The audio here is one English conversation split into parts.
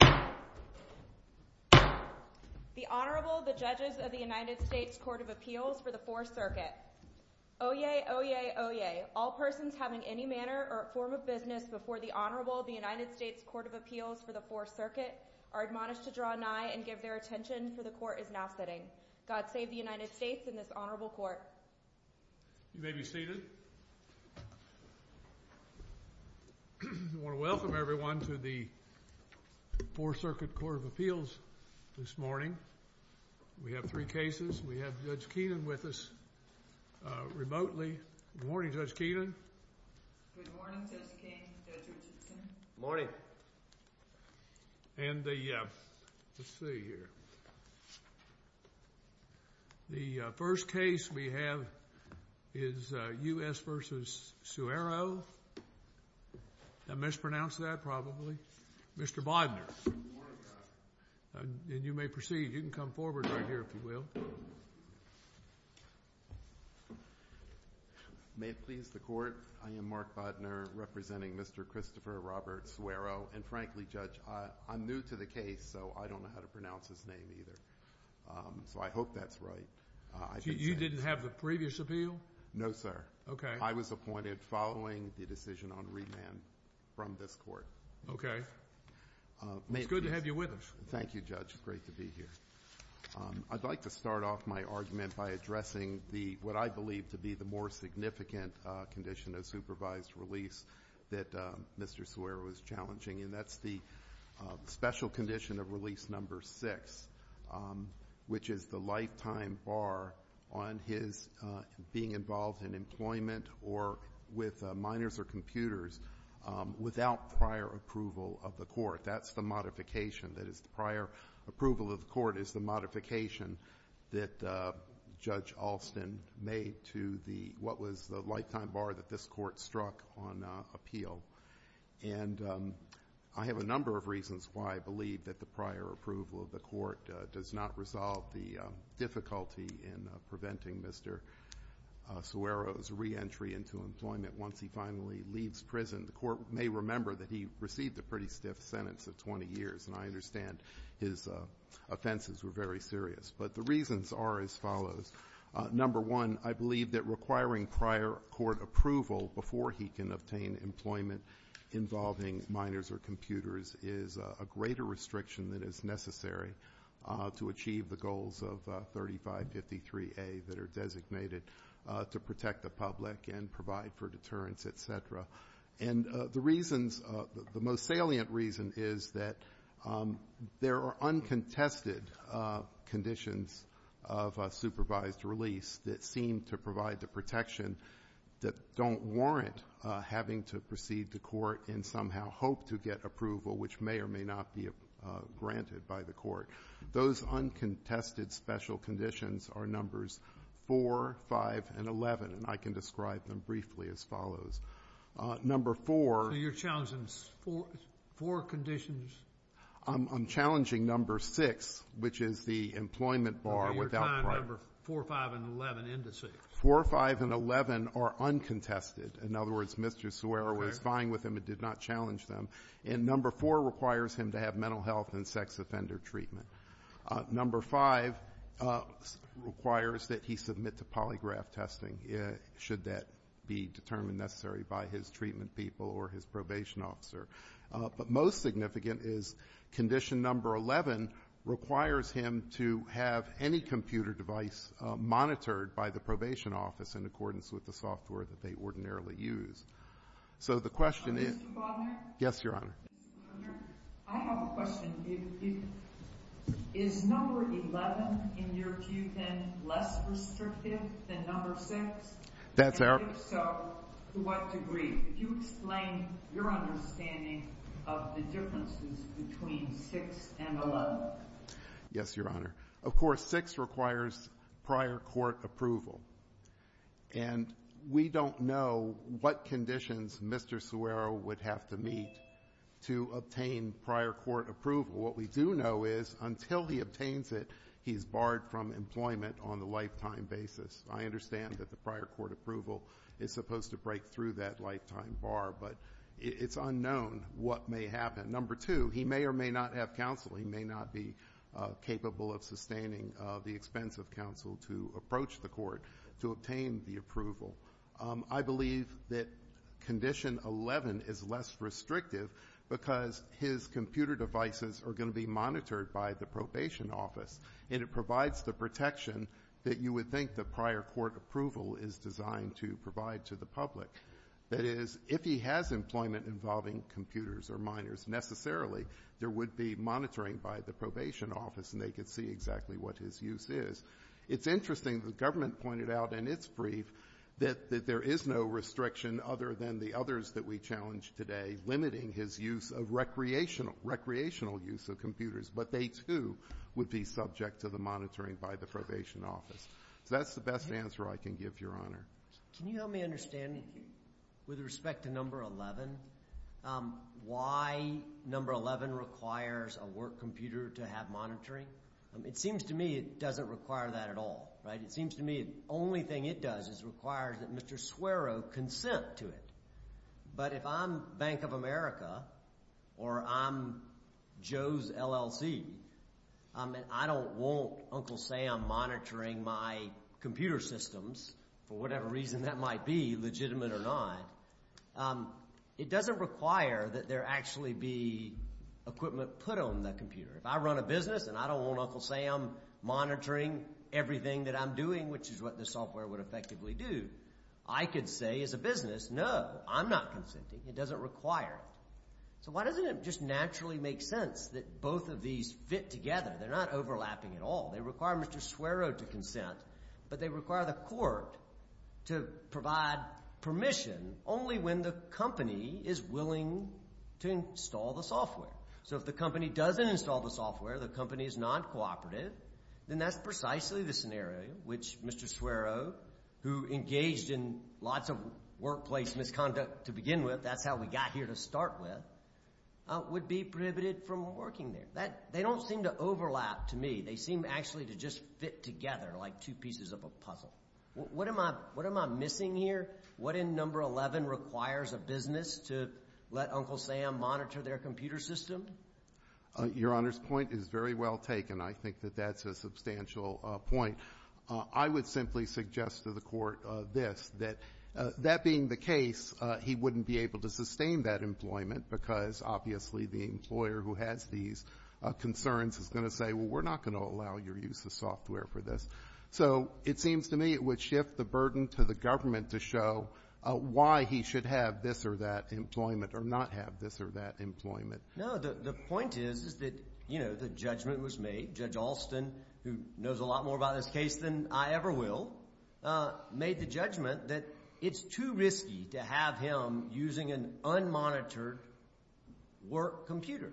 The Honorable, the Judges of the United States Court of Appeals for the Fourth Circuit. Oyez, oyez, oyez. All persons having any manner or form of business before the Honorable, the United States Court of Appeals for the Fourth Circuit, are admonished to draw nigh and give their attention, for the Court is now sitting. God save the United States and this Honorable Court. You may be seated. I want to welcome everyone to the Fourth Circuit Court of Appeals this morning. We have three cases. We have Judge Keenan with us remotely. Good morning, Judge Keenan. Good morning, Judge King, Judge Richardson. Good morning. And the, let's see here. The first case we have is U.S. v. Sueiro. I mispronounced that, probably. Mr. Bodner. And you may proceed. You can come forward right here, if you will. May it please the Court, I am Mark Bodner, representing Mr. Christopher Robert Sueiro. And frankly, Judge, I'm new to the case, so I don't know how to pronounce his name either. So I hope that's right. You didn't have the previous appeal? No, sir. Okay. I was appointed following the decision on remand from this Court. Okay. It's good to have you with us. Thank you, Judge. It's great to be here. I'd like to start off my argument by addressing the, what I believe to be, the more significant condition of supervised release that Mr. Sueiro is challenging, and that's the special condition of release number six, which is the lifetime bar on his being involved in employment or with minors or computers without prior approval of the Court. That's the modification. That is, the prior approval of the Court is the modification that Judge Alston made to the, what was the lifetime bar that this Court struck on appeal. And I have a number of reasons why I believe that the prior approval of the Court does not resolve the difficulty in preventing Mr. Sueiro's reentry into employment once he finally leaves prison. The Court may remember that he received a pretty stiff sentence of 20 years, and I understand his offenses were very serious. But the reasons are as follows. Number one, I believe that requiring prior court approval before he can obtain employment involving minors or computers is a greater restriction than is necessary to achieve the goals of 3553A that are designated to protect the public and provide for deterrence, et cetera. And the reasons, the most salient reason is that there are uncontested conditions of supervised release that seem to provide the protection that don't warrant having to proceed to court and somehow hope to get approval, which may or may not be granted by the Court. Those uncontested special conditions are numbers four, five, and 11, and I can describe them briefly as follows. Number four. So you're challenging four conditions? I'm challenging number six, which is the employment bar without prior. So you're tying number four, five, and 11 into six? Four, five, and 11 are uncontested. In other words, Mr. Sueiro was fine with them and did not challenge them. And number four requires him to have mental health and sex offender treatment. Number five requires that he submit to polygraph testing, should that be determined necessary by his treatment people or his probation officer. But most significant is condition number 11 requires him to have any computer device monitored by the probation office in accordance with the software that they ordinarily use. So the question is... Mr. Butler? Yes, Your Honor. Thank you, Your Honor. I have a question. Is number 11 in your view then less restrictive than number six? That's our... And if so, to what degree? If you explain your understanding of the differences between six and 11. Yes, Your Honor. Of course, six requires prior court approval, and we don't know what conditions Mr. Sueiro would have to meet to obtain prior court approval. What we do know is until he obtains it, he's barred from employment on the lifetime basis. I understand that the prior court approval is supposed to break through that lifetime bar, but it's unknown what may happen. Number two, he may or may not have counsel. He may or may not be capable of sustaining the expense of counsel to approach the court to obtain the approval. I believe that condition 11 is less restrictive because his computer devices are going to be monitored by the probation office, and it provides the protection that you would think the prior court approval is designed to provide to the public. That is, if he has employment involving computers or minors necessarily, there would be monitoring by the probation office, and they could see exactly what his use is. It's interesting that the government pointed out in its brief that there is no restriction other than the others that we challenged today limiting his recreational use of computers, but they, too, would be subject to the monitoring by the probation office. So that's the best answer I can give, Your Honor. Can you help me understand, with respect to number 11, why number 11 requires a work computer to have monitoring? It seems to me it doesn't require that at all, right? It seems to me the only thing it does is requires that Mr. Suero consent to it. But if I'm Bank of America or I'm Joe's LLC, and I don't want Uncle Sam monitoring my computer systems for whatever reason that might be, legitimate or not, it doesn't require that there actually be equipment put on the computer. If I run a business and I don't want Uncle Sam monitoring everything that I'm doing, which is what the software would effectively do, I could say as a business, no, I'm not consenting. It doesn't require it. So why doesn't it just naturally make sense that both of these fit together? They're not overlapping at all. They require Mr. Suero to consent, but they require the court to provide permission only when the company is willing to install the software. So if the company doesn't install the software, the company is non-cooperative, then that's precisely the scenario which Mr. Suero, who engaged in lots of workplace misconduct to begin with, that's how we got here to start with, would be prohibited from working there. They don't seem to overlap to me. They seem actually to just fit together like two pieces of a puzzle. What am I missing here? What in number 11 requires a business to let Uncle Sam monitor their computer system? Your Honor's point is very well taken. I think that that's a substantial point. I would simply suggest to the court this, that that being the case, he wouldn't be able to sustain that employment because obviously the employer who has these concerns is going to say, well, we're not going to allow your use of software for this. So it seems to me it would shift the burden to the government to show why he should have this or that employment or not have this or that employment. No, the point is, is that, you know, the judgment was made. Judge Alston, who knows a lot more about this case than I ever will, made the judgment that it's too risky to have him using an unmonitored work computer.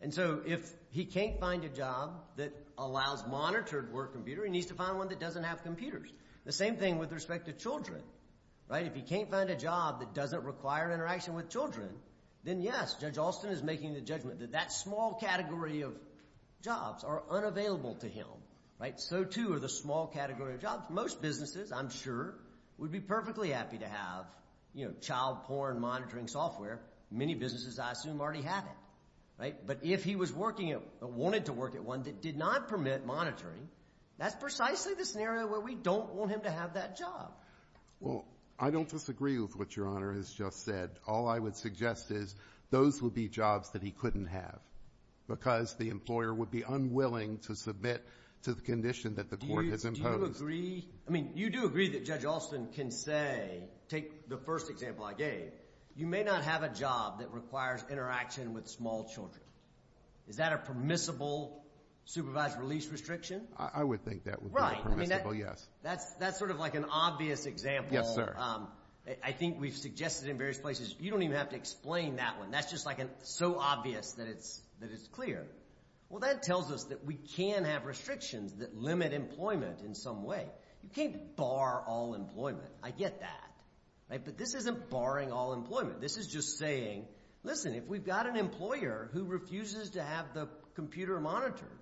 And so if he can't find a job that allows monitored work computer, he needs to find one that doesn't have computers. The same thing with respect to children, right? If he can't find a job that doesn't require interaction with children, then, yes, Judge Alston is making the judgment that that small category of jobs are unavailable to him, right? So too are the small category of jobs. Most businesses, I'm sure, would be perfectly happy to have, you know, child porn monitoring software. Many businesses, I assume, already have it, right? But if he was working at, wanted to work at one that did not permit monitoring, that's precisely the scenario where we don't want him to have that job. Well, I don't disagree with what Your Honor has just said. All I would suggest is those would be jobs that he couldn't have because the employer would be unwilling to submit to the condition that the court has imposed. Do you agree? I mean, you do agree that Judge Alston can say, take the first example I gave, you may not have a job that requires interaction with small children. Is that a permissible supervised release restriction? I would think that would be permissible, yes. Right. I mean, that's sort of like an obvious example. Yes, sir. I think we've suggested in various places, you don't even have to explain that one. That's just like so obvious that it's clear. Well, that tells us that we can have restrictions that limit employment in some way. You can't bar all employment. I get that. But this isn't barring all employment. This is just saying, listen, if we've got an employer who refuses to have the computer monitored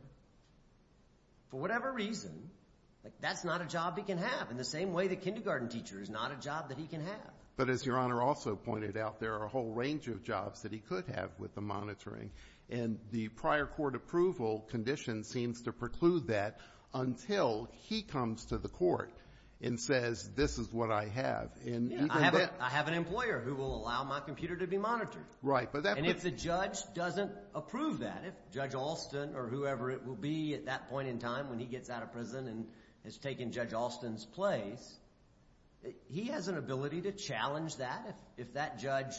for whatever reason, that's not a job he can have. In the same way the kindergarten teacher is not a job that he can have. But as Your Honor also pointed out, there are a whole range of jobs that he could have with the monitoring. And the prior court approval condition seems to preclude that until he comes to the court and says, this is what I have. I have an employer who will allow my computer to be monitored. Right. And if the judge doesn't approve that, if Judge Alston or whoever it will be at that point in time when he gets out of prison and has taken Judge Alston's place, he has an ability to challenge that. If that judge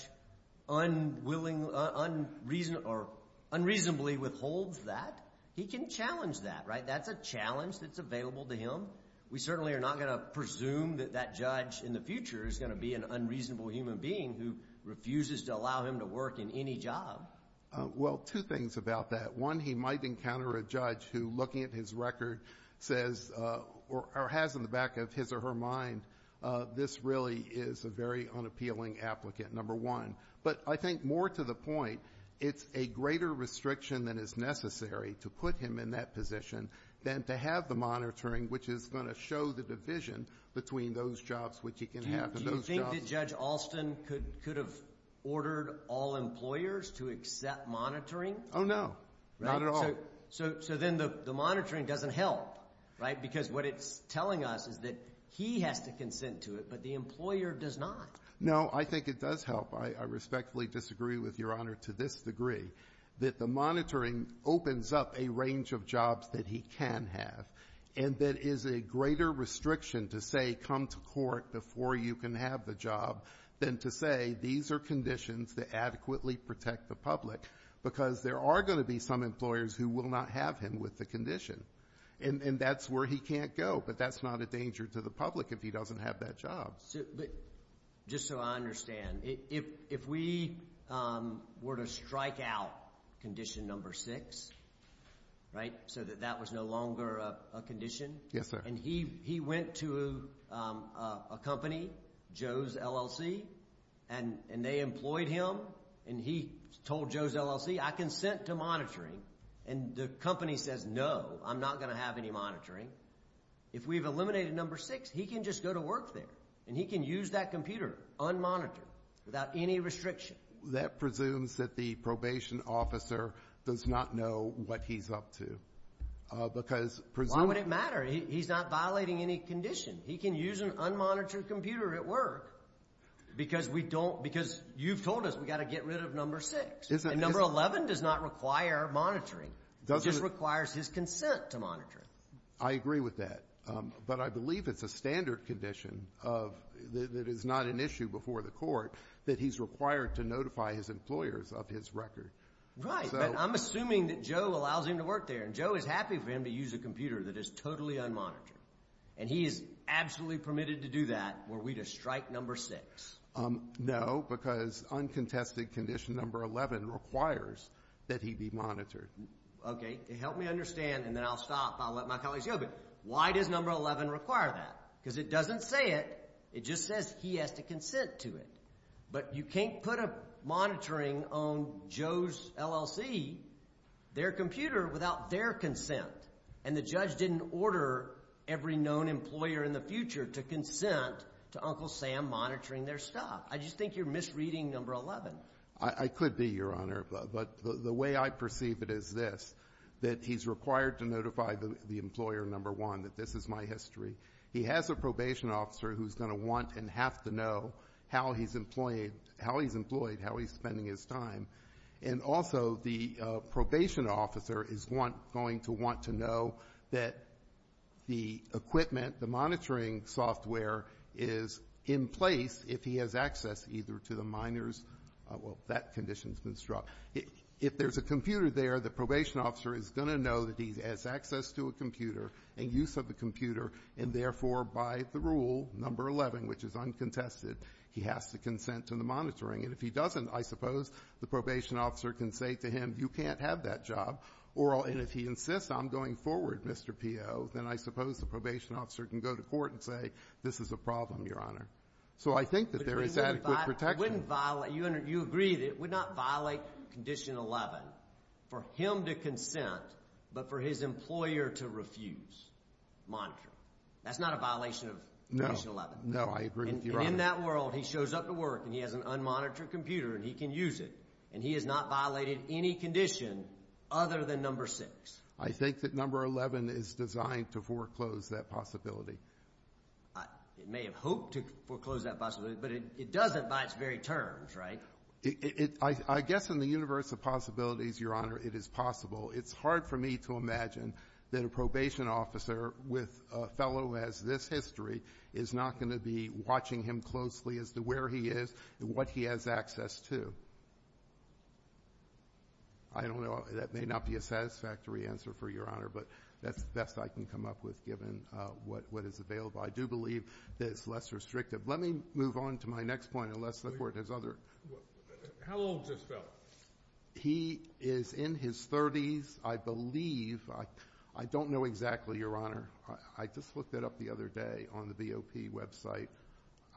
unreasonably withholds that, he can challenge that. That's a challenge that's available to him. We certainly are not going to presume that that judge in the future is going to be an unreasonable human being who refuses to allow him to work in any job. Well, two things about that. One, he might encounter a judge who, looking at his record, says or has in the back of his or her mind, this really is a very unappealing applicant, number one. But I think more to the point, it's a greater restriction that is necessary to put him in that position than to have the monitoring, which is going to show the division between those jobs which he can have and those jobs. Do you think that Judge Alston could have ordered all employers to accept monitoring? Oh, no, not at all. So then the monitoring doesn't help, right, because what it's telling us is that he has to consent to it, but the employer does not. No, I think it does help. I respectfully disagree with Your Honor to this degree, that the monitoring opens up a range of jobs that he can have and that is a greater restriction to say come to court before you can have the job than to say these are conditions that adequately protect the public because there are going to be some employers who will not have him with the condition. And that's where he can't go, but that's not a danger to the public if he doesn't have that job. Just so I understand, if we were to strike out condition number six, right, so that that was no longer a condition. Yes, sir. And he went to a company, Joe's LLC, and they employed him and he told Joe's LLC I consent to monitoring and the company says no, I'm not going to have any monitoring. If we've eliminated number six, he can just go to work there and he can use that computer unmonitored without any restriction. That presumes that the probation officer does not know what he's up to because presumably why would it matter? He's not violating any condition. He can use an unmonitored computer at work because you've told us we've got to get rid of number six. And number 11 does not require monitoring. It just requires his consent to monitor. I agree with that, but I believe it's a standard condition that is not an issue before the court that he's required to notify his employers of his record. Right, but I'm assuming that Joe allows him to work there and Joe is happy for him to use a computer that is totally unmonitored and he is absolutely permitted to do that were we to strike number six. No, because uncontested condition number 11 requires that he be monitored. Okay, help me understand and then I'll stop. I'll let my colleagues go, but why does number 11 require that? Because it doesn't say it. It just says he has to consent to it, but you can't put a monitoring on Joe's LLC, their computer, without their consent, and the judge didn't order every known employer in the future to consent to Uncle Sam monitoring their stuff. I just think you're misreading number 11. I could be, Your Honor, but the way I perceive it is this, that he's required to notify the employer, number one, that this is my history. He has a probation officer who's going to want and have to know how he's employed, how he's spending his time, and also the probation officer is going to want to know that the equipment, the monitoring software is in place if he has access either to the minors. Well, that condition's been struck. If there's a computer there, the probation officer is going to know that he has access to a computer and use of a computer, and therefore by the rule, number 11, which is uncontested, he has to consent to the monitoring, and if he doesn't, I suppose the probation officer can say to him, you can't have that job, and if he insists on going forward, Mr. P.O., then I suppose the probation officer can go to court and say, this is a problem, Your Honor. So I think that there is adequate protection. You agree that it would not violate Condition 11 for him to consent but for his employer to refuse monitoring. That's not a violation of Condition 11. No, I agree with you, Your Honor. And in that world, he shows up to work and he has an unmonitored computer and he can use it, and he has not violated any condition other than number 6. I think that number 11 is designed to foreclose that possibility. It may have hoped to foreclose that possibility, but it doesn't by its very terms, right? I guess in the universe of possibilities, Your Honor, it is possible. It's hard for me to imagine that a probation officer with a fellow who has this history is not going to be watching him closely as to where he is and what he has access to. I don't know. That may not be a satisfactory answer for Your Honor, but that's the best I can come up with given what is available. I do believe that it's less restrictive. Let me move on to my next point and let's look where it is other. How old is this fellow? He is in his 30s, I believe. I don't know exactly, Your Honor. I just looked it up the other day on the BOP website.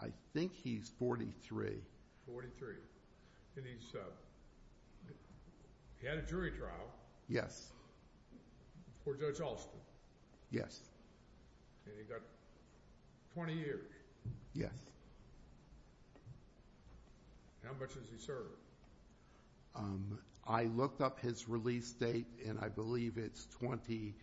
I think he's 43. Forty-three. And he's had a jury trial? Yes. For Judge Alston? Yes. And he got 20 years? Yes. How much has he served? I looked up his release date and I believe it's 20.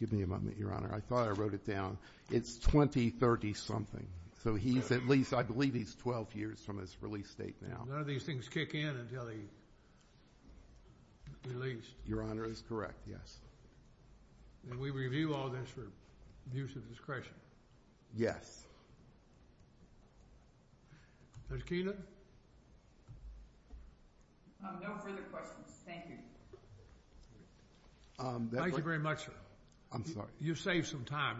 Give me a moment, Your Honor. I thought I wrote it down. It's 2030-something. So he's at least, I believe he's 12 years from his release date now. None of these things kick in until he's released? Your Honor is correct, yes. And we review all this for abuse of discretion? Yes. Judge Keenan? No further questions. Thank you. Thank you very much, sir. I'm sorry. You saved some time.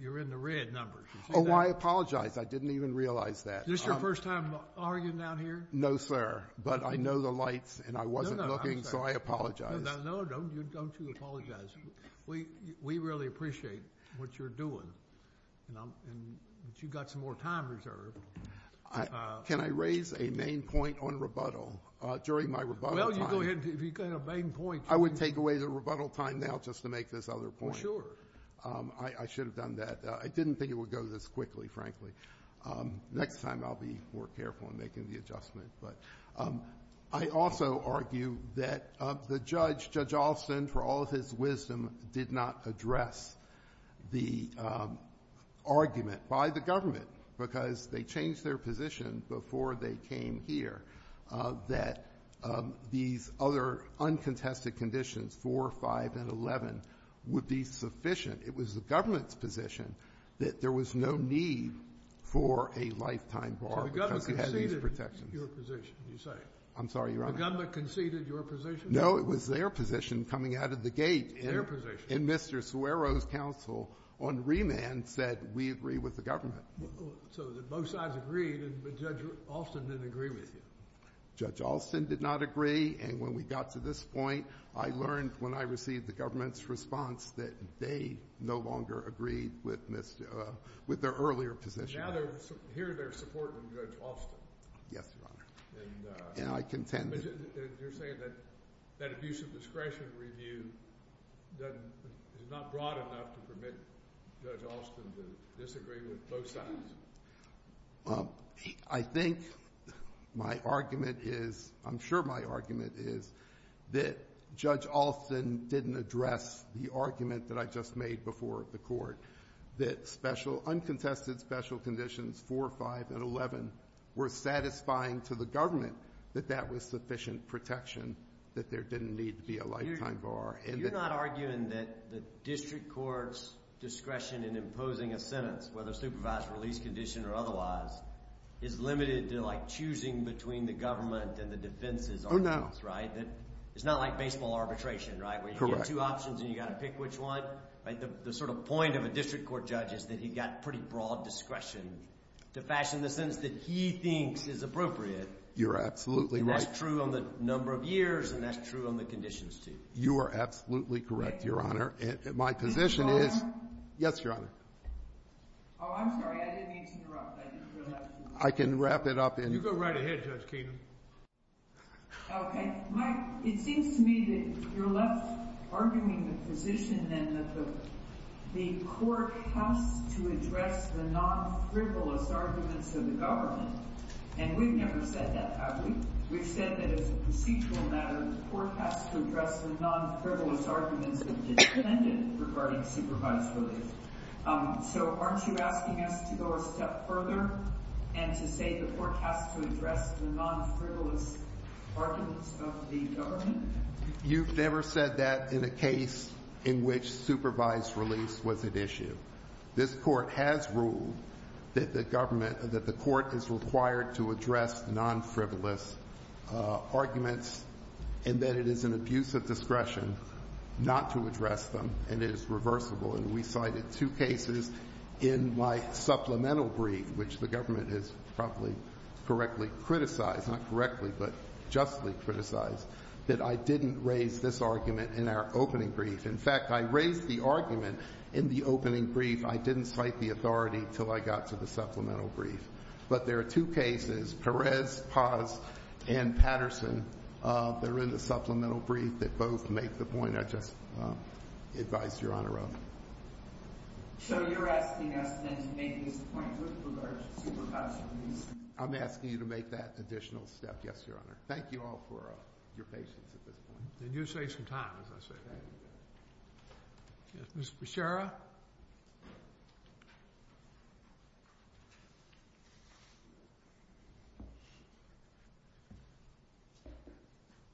You're in the red numbers. Oh, I apologize. I didn't even realize that. Is this your first time arguing down here? No, sir. But I know the lights and I wasn't looking, so I apologize. No, don't you apologize. We really appreciate what you're doing. But you've got some more time reserved. Can I raise a main point on rebuttal? During my rebuttal time. Well, you go ahead. If you've got a main point. I would take away the rebuttal time now just to make this other point. Well, sure. I should have done that. I didn't think it would go this quickly, frankly. Next time I'll be more careful in making the adjustment. I also argue that the judge, Judge Alston, for all of his wisdom, did not address the argument by the government, because they changed their position before they came here, that these other uncontested conditions, 4, 5, and 11, would be sufficient. It was the government's position that there was no need for a lifetime bar because you had these protections. So the government conceded your position, you say? I'm sorry, Your Honor. The government conceded your position? No, it was their position coming out of the gate. Their position? And Mr. Suero's counsel on remand said, we agree with the government. So both sides agreed, but Judge Alston didn't agree with you? Judge Alston did not agree, and when we got to this point, I learned when I received the government's response that they no longer agreed with their earlier position. And now here they're supporting Judge Alston. Yes, Your Honor. And you're saying that that abuse of discretion review is not broad enough to permit Judge Alston to disagree with both sides? I think my argument is, I'm sure my argument is, that Judge Alston didn't address the argument that I just made before the court, that uncontested special conditions 4, 5, and 11 were satisfying to the government, that that was sufficient protection, that there didn't need to be a lifetime bar. You're not arguing that the district court's discretion in imposing a sentence, whether supervised release condition or otherwise, is limited to choosing between the government and the defense's arguments, right? It's not like baseball arbitration, right? Correct. Where you get two options and you've got to pick which one. The sort of point of a district court judge is that he's got pretty broad discretion to fashion the sentence that he thinks is appropriate. You're absolutely right. And that's true on the number of years and that's true on the conditions, too. You are absolutely correct, Your Honor. And my position is— Is it over? Yes, Your Honor. Oh, I'm sorry. I didn't mean to interrupt. I didn't really have to. I can wrap it up in— You go right ahead, Judge Keenum. Okay. Mike, it seems to me that you're left arguing the position, then, that the court has to address the non-frivolous arguments of the government. And we've never said that, have we? We've said that as a procedural matter, the court has to address the non-frivolous arguments of the defendant regarding supervised release. So aren't you asking us to go a step further and to say the court has to address the non-frivolous arguments of the government? You've never said that in a case in which supervised release was at issue. This court has ruled that the government— that the court is required to address non-frivolous arguments and that it is an abuse of discretion not to address them, and it is reversible. And we cited two cases in my supplemental brief, which the government has probably correctly criticized— not correctly, but justly criticized— that I didn't raise this argument in our opening brief. In fact, I raised the argument in the opening brief. I didn't cite the authority until I got to the supplemental brief. But there are two cases, Perez, Paz, and Patterson, that are in the supplemental brief that both make the point I just advised Your Honor of. So you're asking us then to make this point with regard to supervised release? I'm asking you to make that additional step, yes, Your Honor. Thank you all for your patience at this point. And you saved some time, as I said. Ms. Bechara?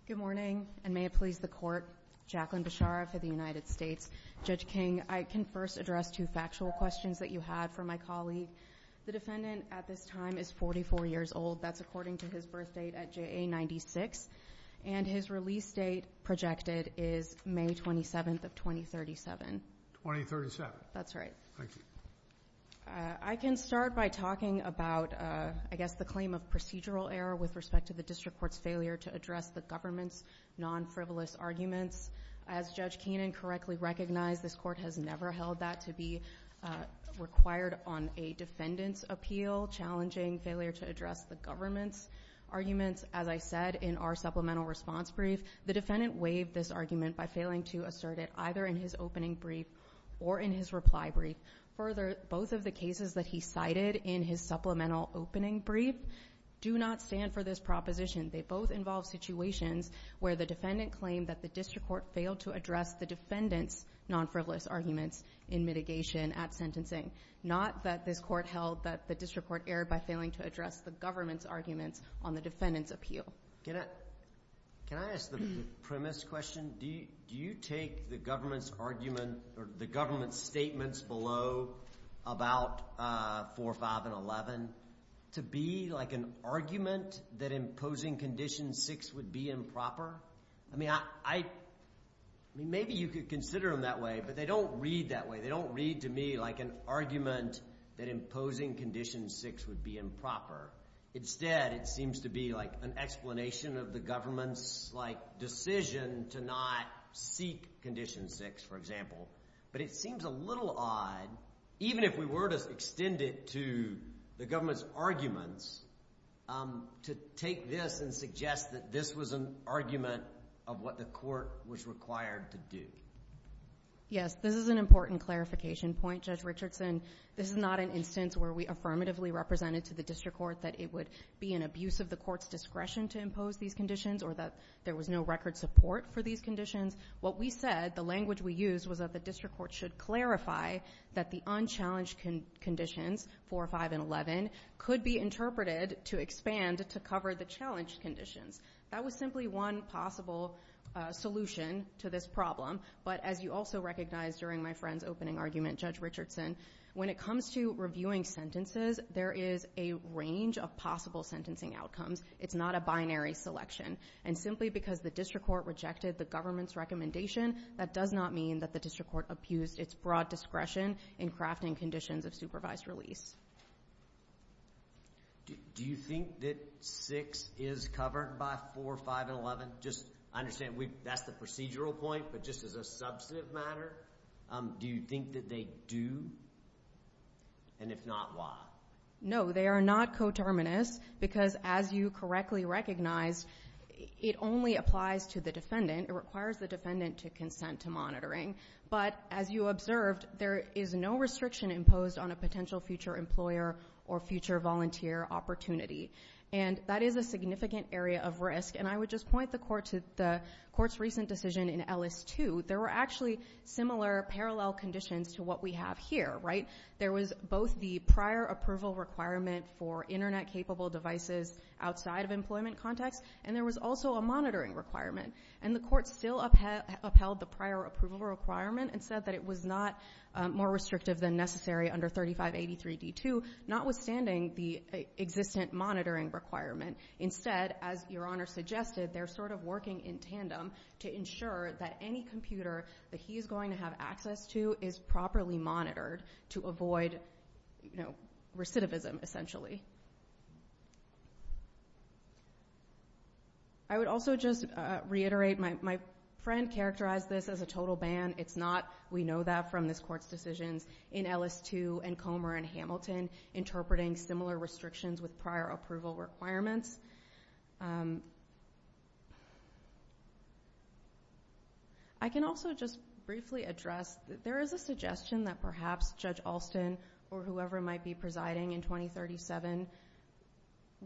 Good morning, and may it please the court. Jacqueline Bechara for the United States. Judge King, I can first address two factual questions that you had for my colleague. The defendant at this time is 44 years old. That's according to his birth date at JA-96. And his release date projected is May 27th of 2037. 2037. That's right. Thank you. I can start by talking about, I guess, the claim of procedural error with respect to the district court's failure to address the government's non-frivolous arguments. As Judge Keenan correctly recognized, this court has never held that to be required on a defendant's appeal, challenging failure to address the government's arguments. As I said in our supplemental response brief, the defendant waived this argument by failing to assert it either in his opening brief or in his reply brief. Further, both of the cases that he cited in his supplemental opening brief do not stand for this proposition. They both involve situations where the defendant claimed that the district court failed to address the defendant's non-frivolous arguments in mitigation at sentencing, not that this court held that the district court erred by failing to address the government's arguments on the defendant's appeal. Can I ask the premise question? Do you take the government's argument or the government's statements below about 4, 5, and 11 to be like an argument that imposing Condition 6 would be improper? I mean, maybe you could consider them that way, but they don't read that way. They don't read to me like an argument that imposing Condition 6 would be improper. Instead, it seems to be like an explanation of the government's decision to not seek Condition 6, for example. But it seems a little odd, even if we were to extend it to the government's arguments, to take this and suggest that this was an argument of what the court was required to do. Yes, this is an important clarification point. Judge Richardson, this is not an instance where we affirmatively represented to the district court that it would be an abuse of the court's discretion to impose these conditions or that there was no record support for these conditions. What we said, the language we used, was that the district court should clarify that the unchallenged conditions, 4, 5, and 11, could be interpreted to expand to cover the challenged conditions. That was simply one possible solution to this problem. But as you also recognized during my friend's opening argument, Judge Richardson, when it comes to reviewing sentences, there is a range of possible sentencing outcomes. It's not a binary selection. And simply because the district court rejected the government's recommendation, that does not mean that the district court abused its broad discretion in crafting conditions of supervised release. Do you think that 6 is covered by 4, 5, and 11? I understand that's the procedural point, but just as a substantive matter, do you think that they do? And if not, why? No, they are not coterminous, because as you correctly recognize, it only applies to the defendant. It requires the defendant to consent to monitoring. But as you observed, there is no restriction imposed on a potential future employer or future volunteer opportunity, and that is a significant area of risk. And I would just point the court to the court's recent decision in Ellis 2. There were actually similar parallel conditions to what we have here, right? There was both the prior approval requirement for Internet-capable devices outside of employment context, and there was also a monitoring requirement. And the court still upheld the prior approval requirement and said that it was not more restrictive than necessary under 3583d2, notwithstanding the existent monitoring requirement. Instead, as Your Honor suggested, they're sort of working in tandem to ensure that any computer that he is going to have access to is properly monitored to avoid recidivism, essentially. I would also just reiterate my friend characterized this as a total ban. It's not. We know that from this court's decisions in Ellis 2 and Comer and Hamilton, interpreting similar restrictions with prior approval requirements. I can also just briefly address that there is a suggestion that perhaps Judge Alston or whoever might be presiding in 2037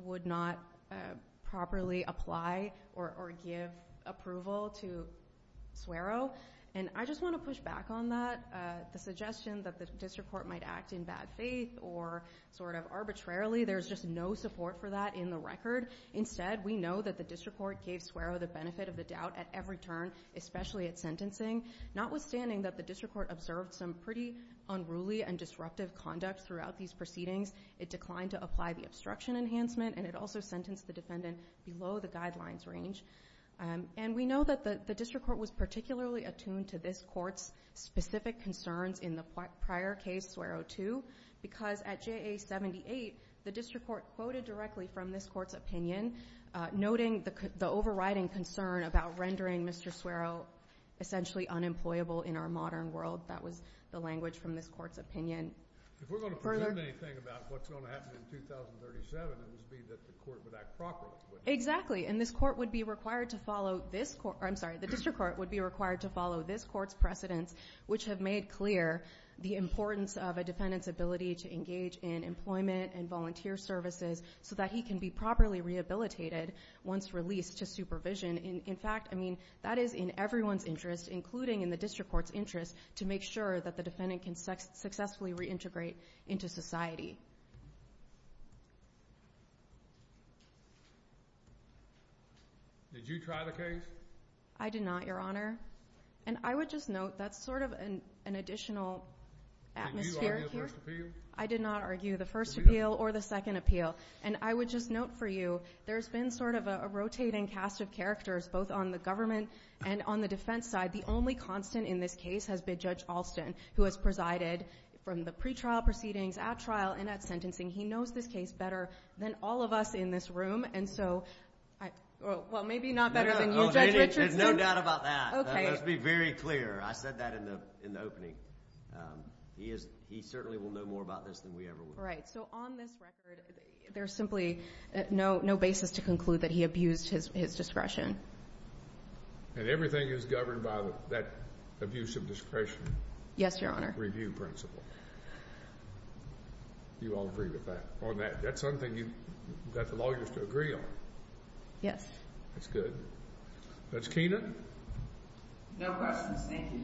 would not properly apply or give approval to Swero. And I just want to push back on that, the suggestion that the district court might act in bad faith or sort of arbitrarily, there's just no support for that in the record. Instead, we know that the district court gave Swero the benefit of the doubt at every turn, especially at sentencing. Notwithstanding that the district court observed some pretty unruly and disruptive conduct throughout these proceedings, it declined to apply the obstruction enhancement and it also sentenced the defendant below the guidelines range. And we know that the district court was particularly attuned to this court's specific concerns in the prior case, Swero 2, because at JA 78, the district court quoted directly from this court's opinion, noting the overriding concern about rendering Mr. Swero essentially unemployable in our modern world. That was the language from this court's opinion. If we're going to present anything about what's going to happen in 2037, it would be that the court would act properly. Exactly, and this court would be required to follow this court, I'm sorry, the importance of a defendant's ability to engage in employment and volunteer services so that he can be properly rehabilitated once released to supervision. In fact, that is in everyone's interest, including in the district court's interest, to make sure that the defendant can successfully reintegrate into society. Did you try the case? I did not, Your Honor. And I would just note that's sort of an additional atmosphere here. Did you argue the first appeal? I did not argue the first appeal or the second appeal. And I would just note for you, there's been sort of a rotating cast of characters, both on the government and on the defense side. The only constant in this case has been Judge Alston, who has presided from the pretrial proceedings at trial and at sentencing. He knows this case better than all of us in this room. And so, well, maybe not better than you, Judge Richards. There's no doubt about that. Okay. Let's be very clear. I said that in the opening. He certainly will know more about this than we ever will. Right. So on this record, there's simply no basis to conclude that he abused his discretion. And everything is governed by that abuse of discretion. Yes, Your Honor. Review principle. Do you all agree with that? On that, that's something you've got the lawyers to agree on. Yes. That's good. Judge Keenan. No questions. Thank you.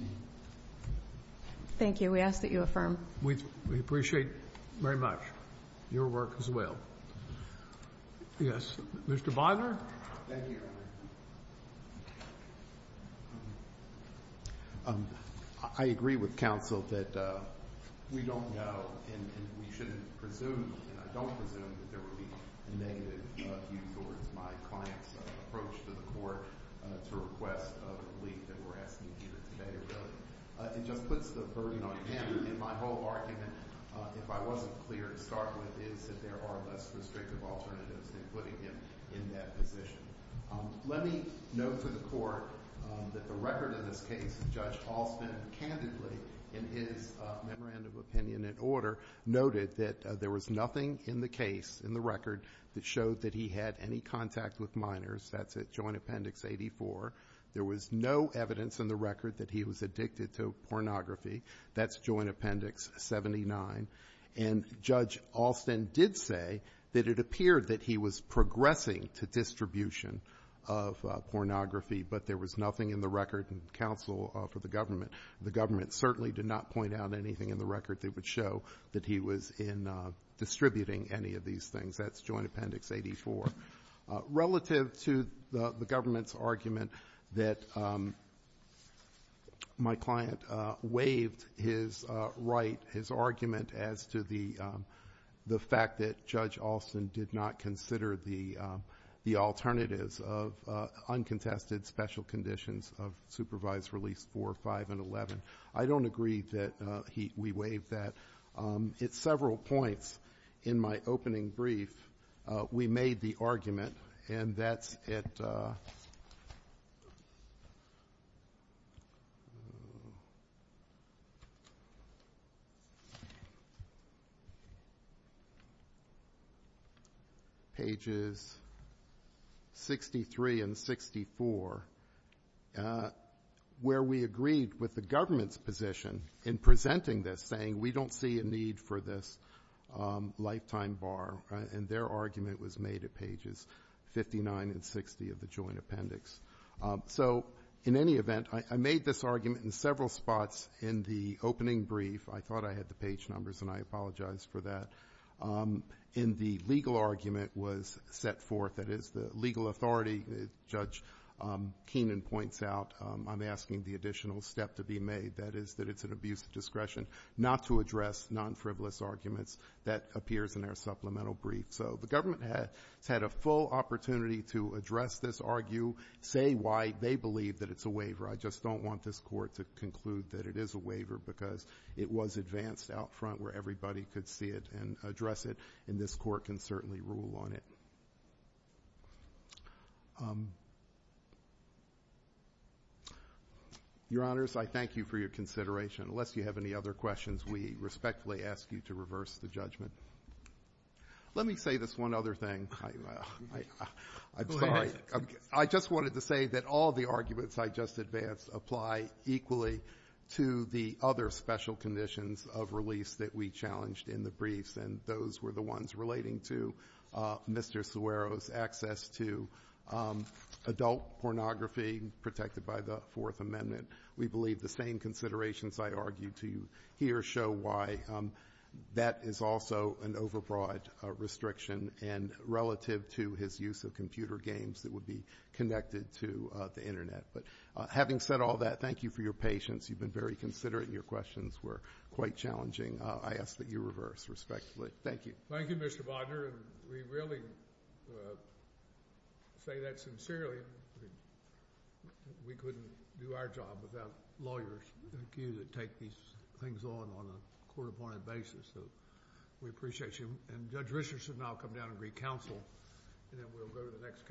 Thank you. We ask that you affirm. We appreciate very much your work as well. Yes. Mr. Bonner. Thank you, Your Honor. I agree with counsel that we don't know and we shouldn't presume, and I don't presume that there will be a negative view towards my client's approach to the court to request a relief that we're asking here today. It just puts the burden on him. And my whole argument, if I wasn't clear to start with, is that there are less restrictive alternatives than putting him in that position. Let me note for the court that the record of this case, Judge Halston candidly, in his memorandum of opinion and order, noted that there was nothing in the case, in the record, that showed that he had any contact with minors. That's at Joint Appendix 84. There was no evidence in the record that he was addicted to pornography. That's Joint Appendix 79. And Judge Halston did say that it appeared that he was progressing to distribution of pornography, but there was nothing in the record and counsel for the government. The government certainly did not point out anything in the record that would show that he was in distributing any of these things. That's Joint Appendix 84. Relative to the government's argument that my client waived his right, his argument as to the fact that Judge Halston did not consider the alternatives of uncontested special conditions of supervised release 4, 5, and 11. I don't agree that we waived that. At several points in my opening brief, we made the argument, and that's at pages 63 and 64, where we agreed with the government's position in presenting this, saying we don't see a need for this lifetime bar. And their argument was made at pages 59 and 60 of the Joint Appendix. So in any event, I made this argument in several spots in the opening brief. I thought I had the page numbers, and I apologize for that. In the legal argument was set forth, that is, the legal authority, Judge Keenan points out, I'm asking the additional step to be made, that is that it's an abuse of discretion not to address non-frivolous arguments that appears in our supplemental brief. So the government has had a full opportunity to address this, argue, say why they believe that it's a waiver. I just don't want this court to conclude that it is a waiver because it was advanced out front where everybody could see it and address it, and this court can certainly rule on it. Your Honors, I thank you for your consideration. Unless you have any other questions, we respectfully ask you to reverse the judgment. Let me say this one other thing. I'm sorry. I just wanted to say that all the arguments I just advanced apply equally to the other special conditions of release that we challenged in the briefs, and those were the ones relating to Mr. Suero's access to adult pornography protected by the Fourth Amendment. We believe the same considerations I argued to you here show why that is also an overbroad restriction relative to his use of computer games that would be connected to the Internet. Having said all that, thank you for your patience. You've been very considerate, and your questions were quite challenging. I ask that you reverse, respectfully. Thank you. Thank you, Mr. Bodner. We really say that sincerely. We couldn't do our job without lawyers like you that take these things on on a court-appointed basis. We appreciate you. Judge Richardson and I will come down and recounsel, and then we'll go to the next case. Thank you.